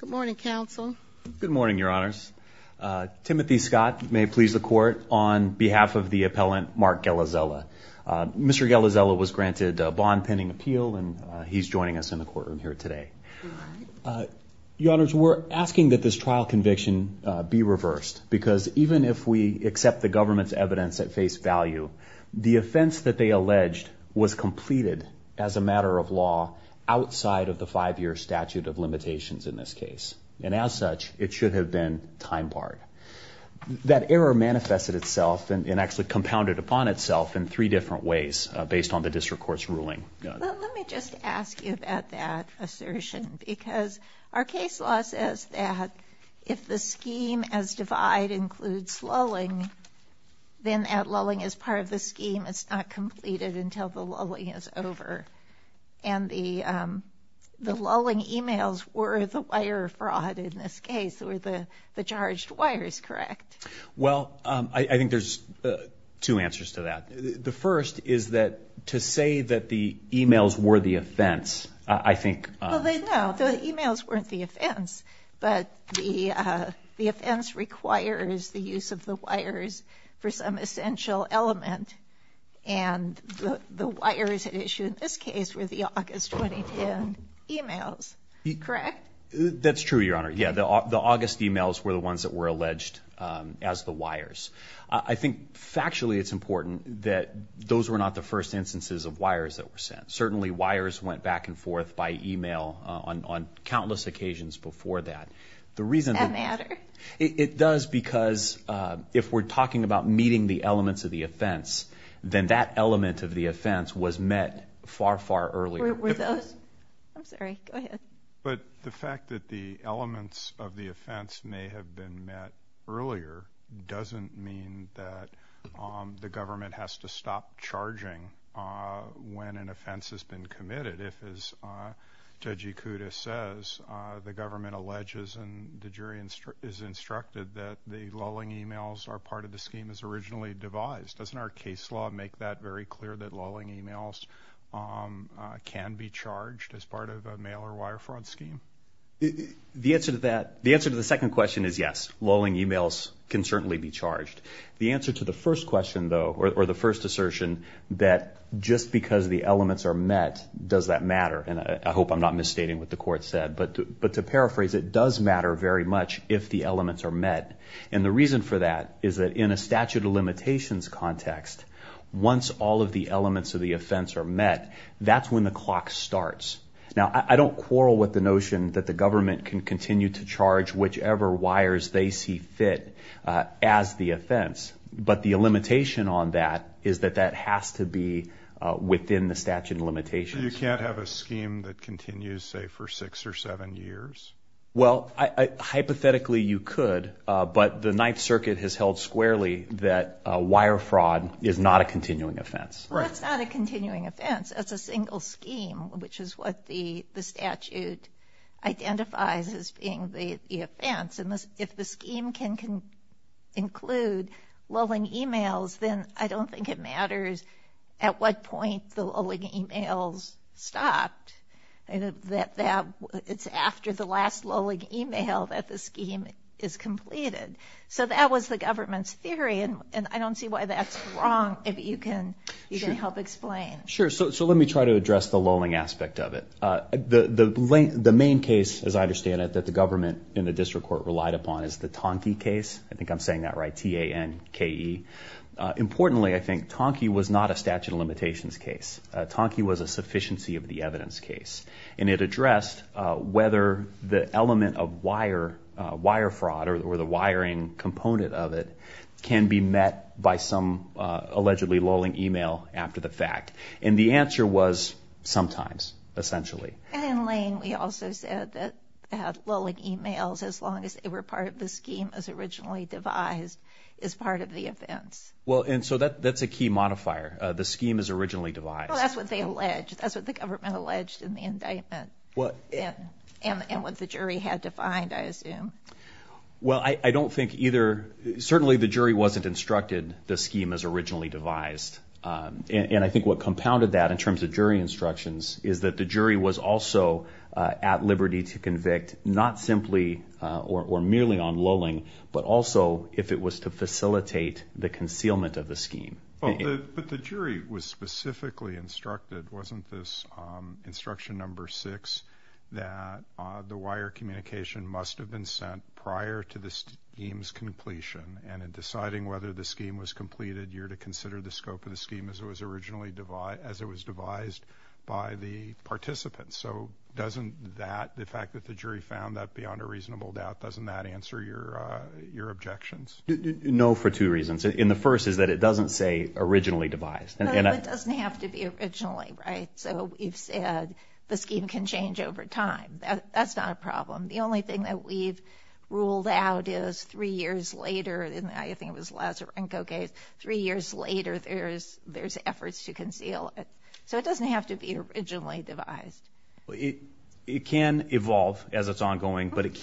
Good morning counsel. Good morning your honors. Timothy Scott may please the court on behalf of the appellant Mark Gelazela. Mr. Gelazela was granted a bond pending appeal and he's joining us in the courtroom here today. Your honors we're asking that this trial conviction be reversed because even if we accept the government's evidence at face value the offense that they alleged was a matter of law outside of the five-year statute of limitations in this case and as such it should have been time barred. That error manifested itself and actually compounded upon itself in three different ways based on the district court's ruling. Let me just ask you about that assertion because our case law says that if the scheme as divide includes lulling then that lulling is part of the scheme it's not completed until the lulling is over and the the lulling emails were the wire fraud in this case or the the charged wires correct? Well I think there's two answers to that. The first is that to say that the emails were the offense I think. Well they know the emails weren't the offense but the the offense requires the use of the wires for some essential element and the wires issue in this case were the August 2010 emails correct? That's true your honor yeah the August emails were the ones that were alleged as the wires. I think factually it's important that those were not the first instances of wires that were sent. Certainly wires went back and forth by email on countless occasions before that. The reason that it does because if we're the offense then that element of the offense was met far far earlier. But the fact that the elements of the offense may have been met earlier doesn't mean that the government has to stop charging when an offense has been committed. If as Judge Ikuda says the government alleges and the jury is instructed that the lulling emails are part of the scheme is originally devised. Doesn't our case law make that very clear that lulling emails can be charged as part of a mail or wire fraud scheme? The answer to that the answer to the second question is yes lulling emails can certainly be charged. The answer to the first question though or the first assertion that just because the elements are met does that matter and I hope I'm not misstating what the court said but to paraphrase it does matter very much if the elements are met and the reason for that is that in a statute of limitations context once all of the elements of the offense are met that's when the clock starts. Now I don't quarrel with the notion that the government can continue to charge whichever wires they see fit as the offense but the limitation on that is that that has to be within the statute of limitations. You can't have a scheme that continues say for six or seven years. Well I hypothetically you could but the Ninth Circuit has held squarely that wire fraud is not a continuing offense. That's not a continuing offense. That's a single scheme which is what the statute identifies as being the offense and if the scheme can include lulling emails then I don't think it matters at what point the lulling emails stopped and that it's after the last lulling email that the scheme is completed. So that was the government's theory and I don't see why that's wrong if you can you can help explain. Sure so let me try to address the lulling aspect of it. The main case as I understand it that the government in the district court relied upon is the Tonki case. I think I'm saying that right T-A-N-K-E. Importantly I think Tonki was not a statute of limitations case. Tonki was a statute of limitations and it addressed whether the element of wire wire fraud or the wiring component of it can be met by some allegedly lulling email after the fact and the answer was sometimes essentially. And in Lane we also said that lulling emails as long as they were part of the scheme as originally devised is part of the offense. Well and so that that's a key modifier the scheme is originally devised. That's what they allege. That's what the government alleged in the indictment. What? And what the jury had to find I assume. Well I don't think either certainly the jury wasn't instructed the scheme as originally devised and I think what compounded that in terms of jury instructions is that the jury was also at liberty to convict not simply or merely on lulling but also if it was to facilitate the concealment of the scheme. But the jury was specifically instructed wasn't this instruction number six that the wire communication must have been sent prior to the scheme's completion and in deciding whether the scheme was completed you're to consider the scope of the scheme as it was originally devised as it was devised by the participants. So doesn't that the fact that the jury found that beyond a reasonable doubt doesn't that answer your your objections? No for two reasons. In the first is that it doesn't say originally devised. It doesn't have to be originally right so you've said the scheme can change over time. That's not a problem. The only thing that we've ruled out is three years later and I think it was Lazarenko case three years later there's there's efforts to conceal it so it doesn't have to be originally devised. It can evolve as it's ongoing but it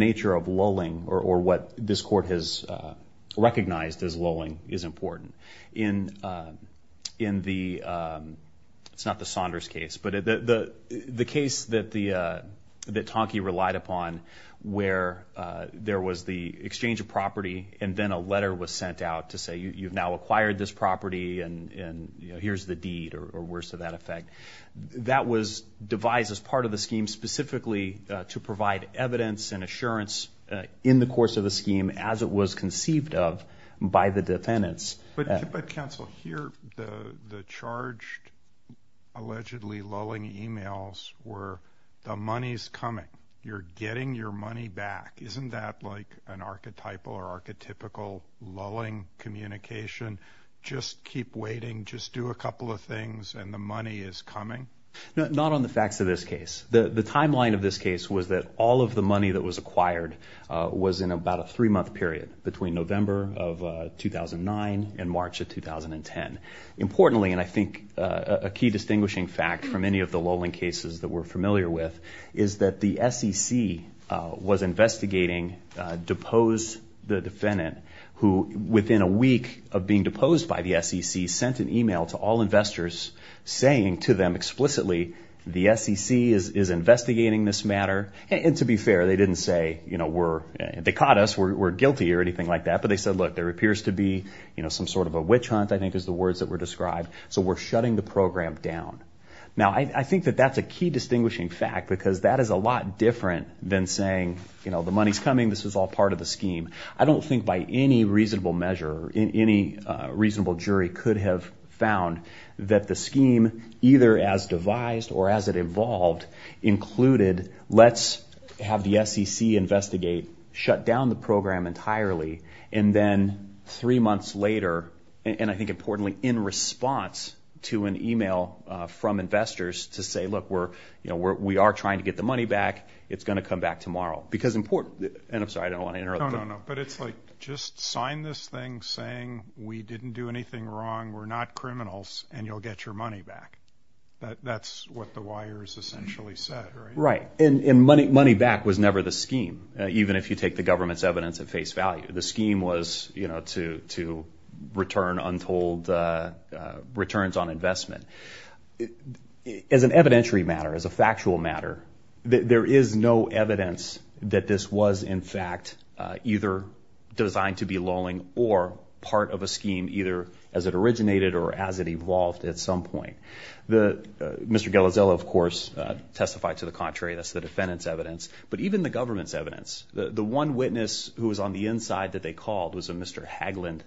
nature of lulling or what this court has recognized as lulling is important. In the it's not the Saunders case but the the case that the that Tonki relied upon where there was the exchange of property and then a letter was sent out to say you've now acquired this property and and you know here's the deed or worse to that effect. That was devised as part of the scheme specifically to provide evidence and assurance in the course of the scheme as it was conceived of by the defendants. But counsel here the the charged allegedly lulling emails were the money's coming. You're getting your money back. Isn't that like an archetypal or archetypical lulling communication just keep waiting just do a couple of things and the money is coming? Not on the facts of this case. The the timeline of this case was that all of the money that was acquired was in about a three-month period between November of 2009 and March of 2010. Importantly and I think a key distinguishing fact from any of the lulling cases that we're familiar with is that the SEC was investigating deposed the defendant who within a week of being deposed by the SEC sent an email to all the defendants. The SEC is investigating this matter and to be fair they didn't say you know we're they caught us we're guilty or anything like that but they said look there appears to be you know some sort of a witch hunt I think is the words that were described so we're shutting the program down. Now I think that that's a key distinguishing fact because that is a lot different than saying you know the money's coming this is all part of the scheme. I don't think by any reasonable measure in any reasonable jury could have found that the scheme either as devised or as it evolved included let's have the SEC investigate shut down the program entirely and then three months later and I think importantly in response to an email from investors to say look we're you know we are trying to get the money back it's going to come back tomorrow because important and I'm sorry I don't want to interrupt. No, no, no, but it's like just sign this thing saying we didn't do anything wrong we're not criminals and you'll get your money back. That's what the wires essentially said. Right and money back was never the scheme even if you take the government's evidence at face value the scheme was you know to return untold returns on investment. As an evidentiary matter as a factual matter there is no evidence that this was in fact either designed to be lulling or part of a scheme either as it originated or as it evolved at some point. Mr. Galazella of course testified to the contrary that's the defendant's evidence but even the government's evidence the the one witness who was on the inside that they called was a Mr. Haglund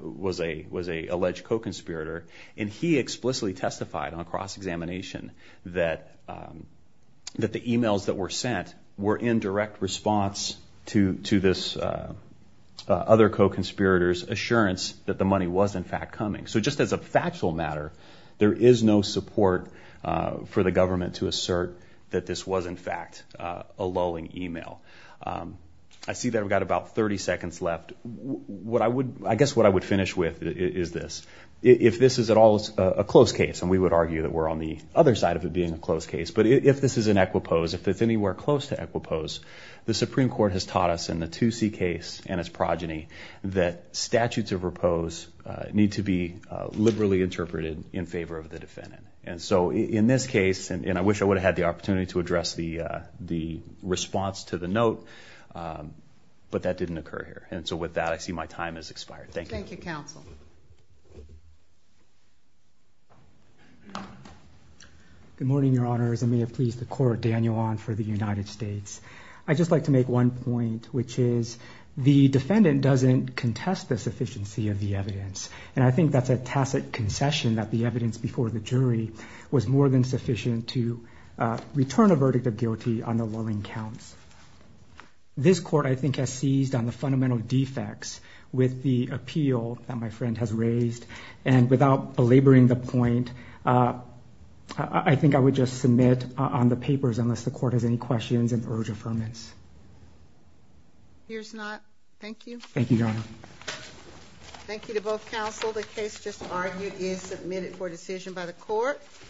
was a was a alleged co-conspirator and he explicitly testified on cross-examination that that the emails that were sent were in direct response to to this other co-conspirators assurance that the money was in fact coming. So just as a factual matter there is no support for the government to assert that this was in fact a lulling email. I see that we've got about 30 seconds left what I would I guess what I would finish with is this if this is at all a close case and we would argue that we're on the other side of it being a close case but if this is an equipose if it's anywhere close to equipose the Supreme Court has taught us in the 2C case and its progeny that statutes of repose need to be liberally interpreted in favor of the defendant and so in this case and I wish I would have had the opportunity to address the the response to the note but that didn't occur here and so with that I see my time has expired. Thank you counsel. Good morning your honors I may have pleased the court Daniel on for the which is the defendant doesn't contest the sufficiency of the evidence and I think that's a tacit concession that the evidence before the jury was more than sufficient to return a verdict of guilty on the lulling counts. This court I think has seized on the fundamental defects with the appeal that my friend has raised and without belaboring the point I think I would just submit on the Here's not. Thank you. Thank you your honor. Thank you to both counsel the case just argued is submitted for decision by the court.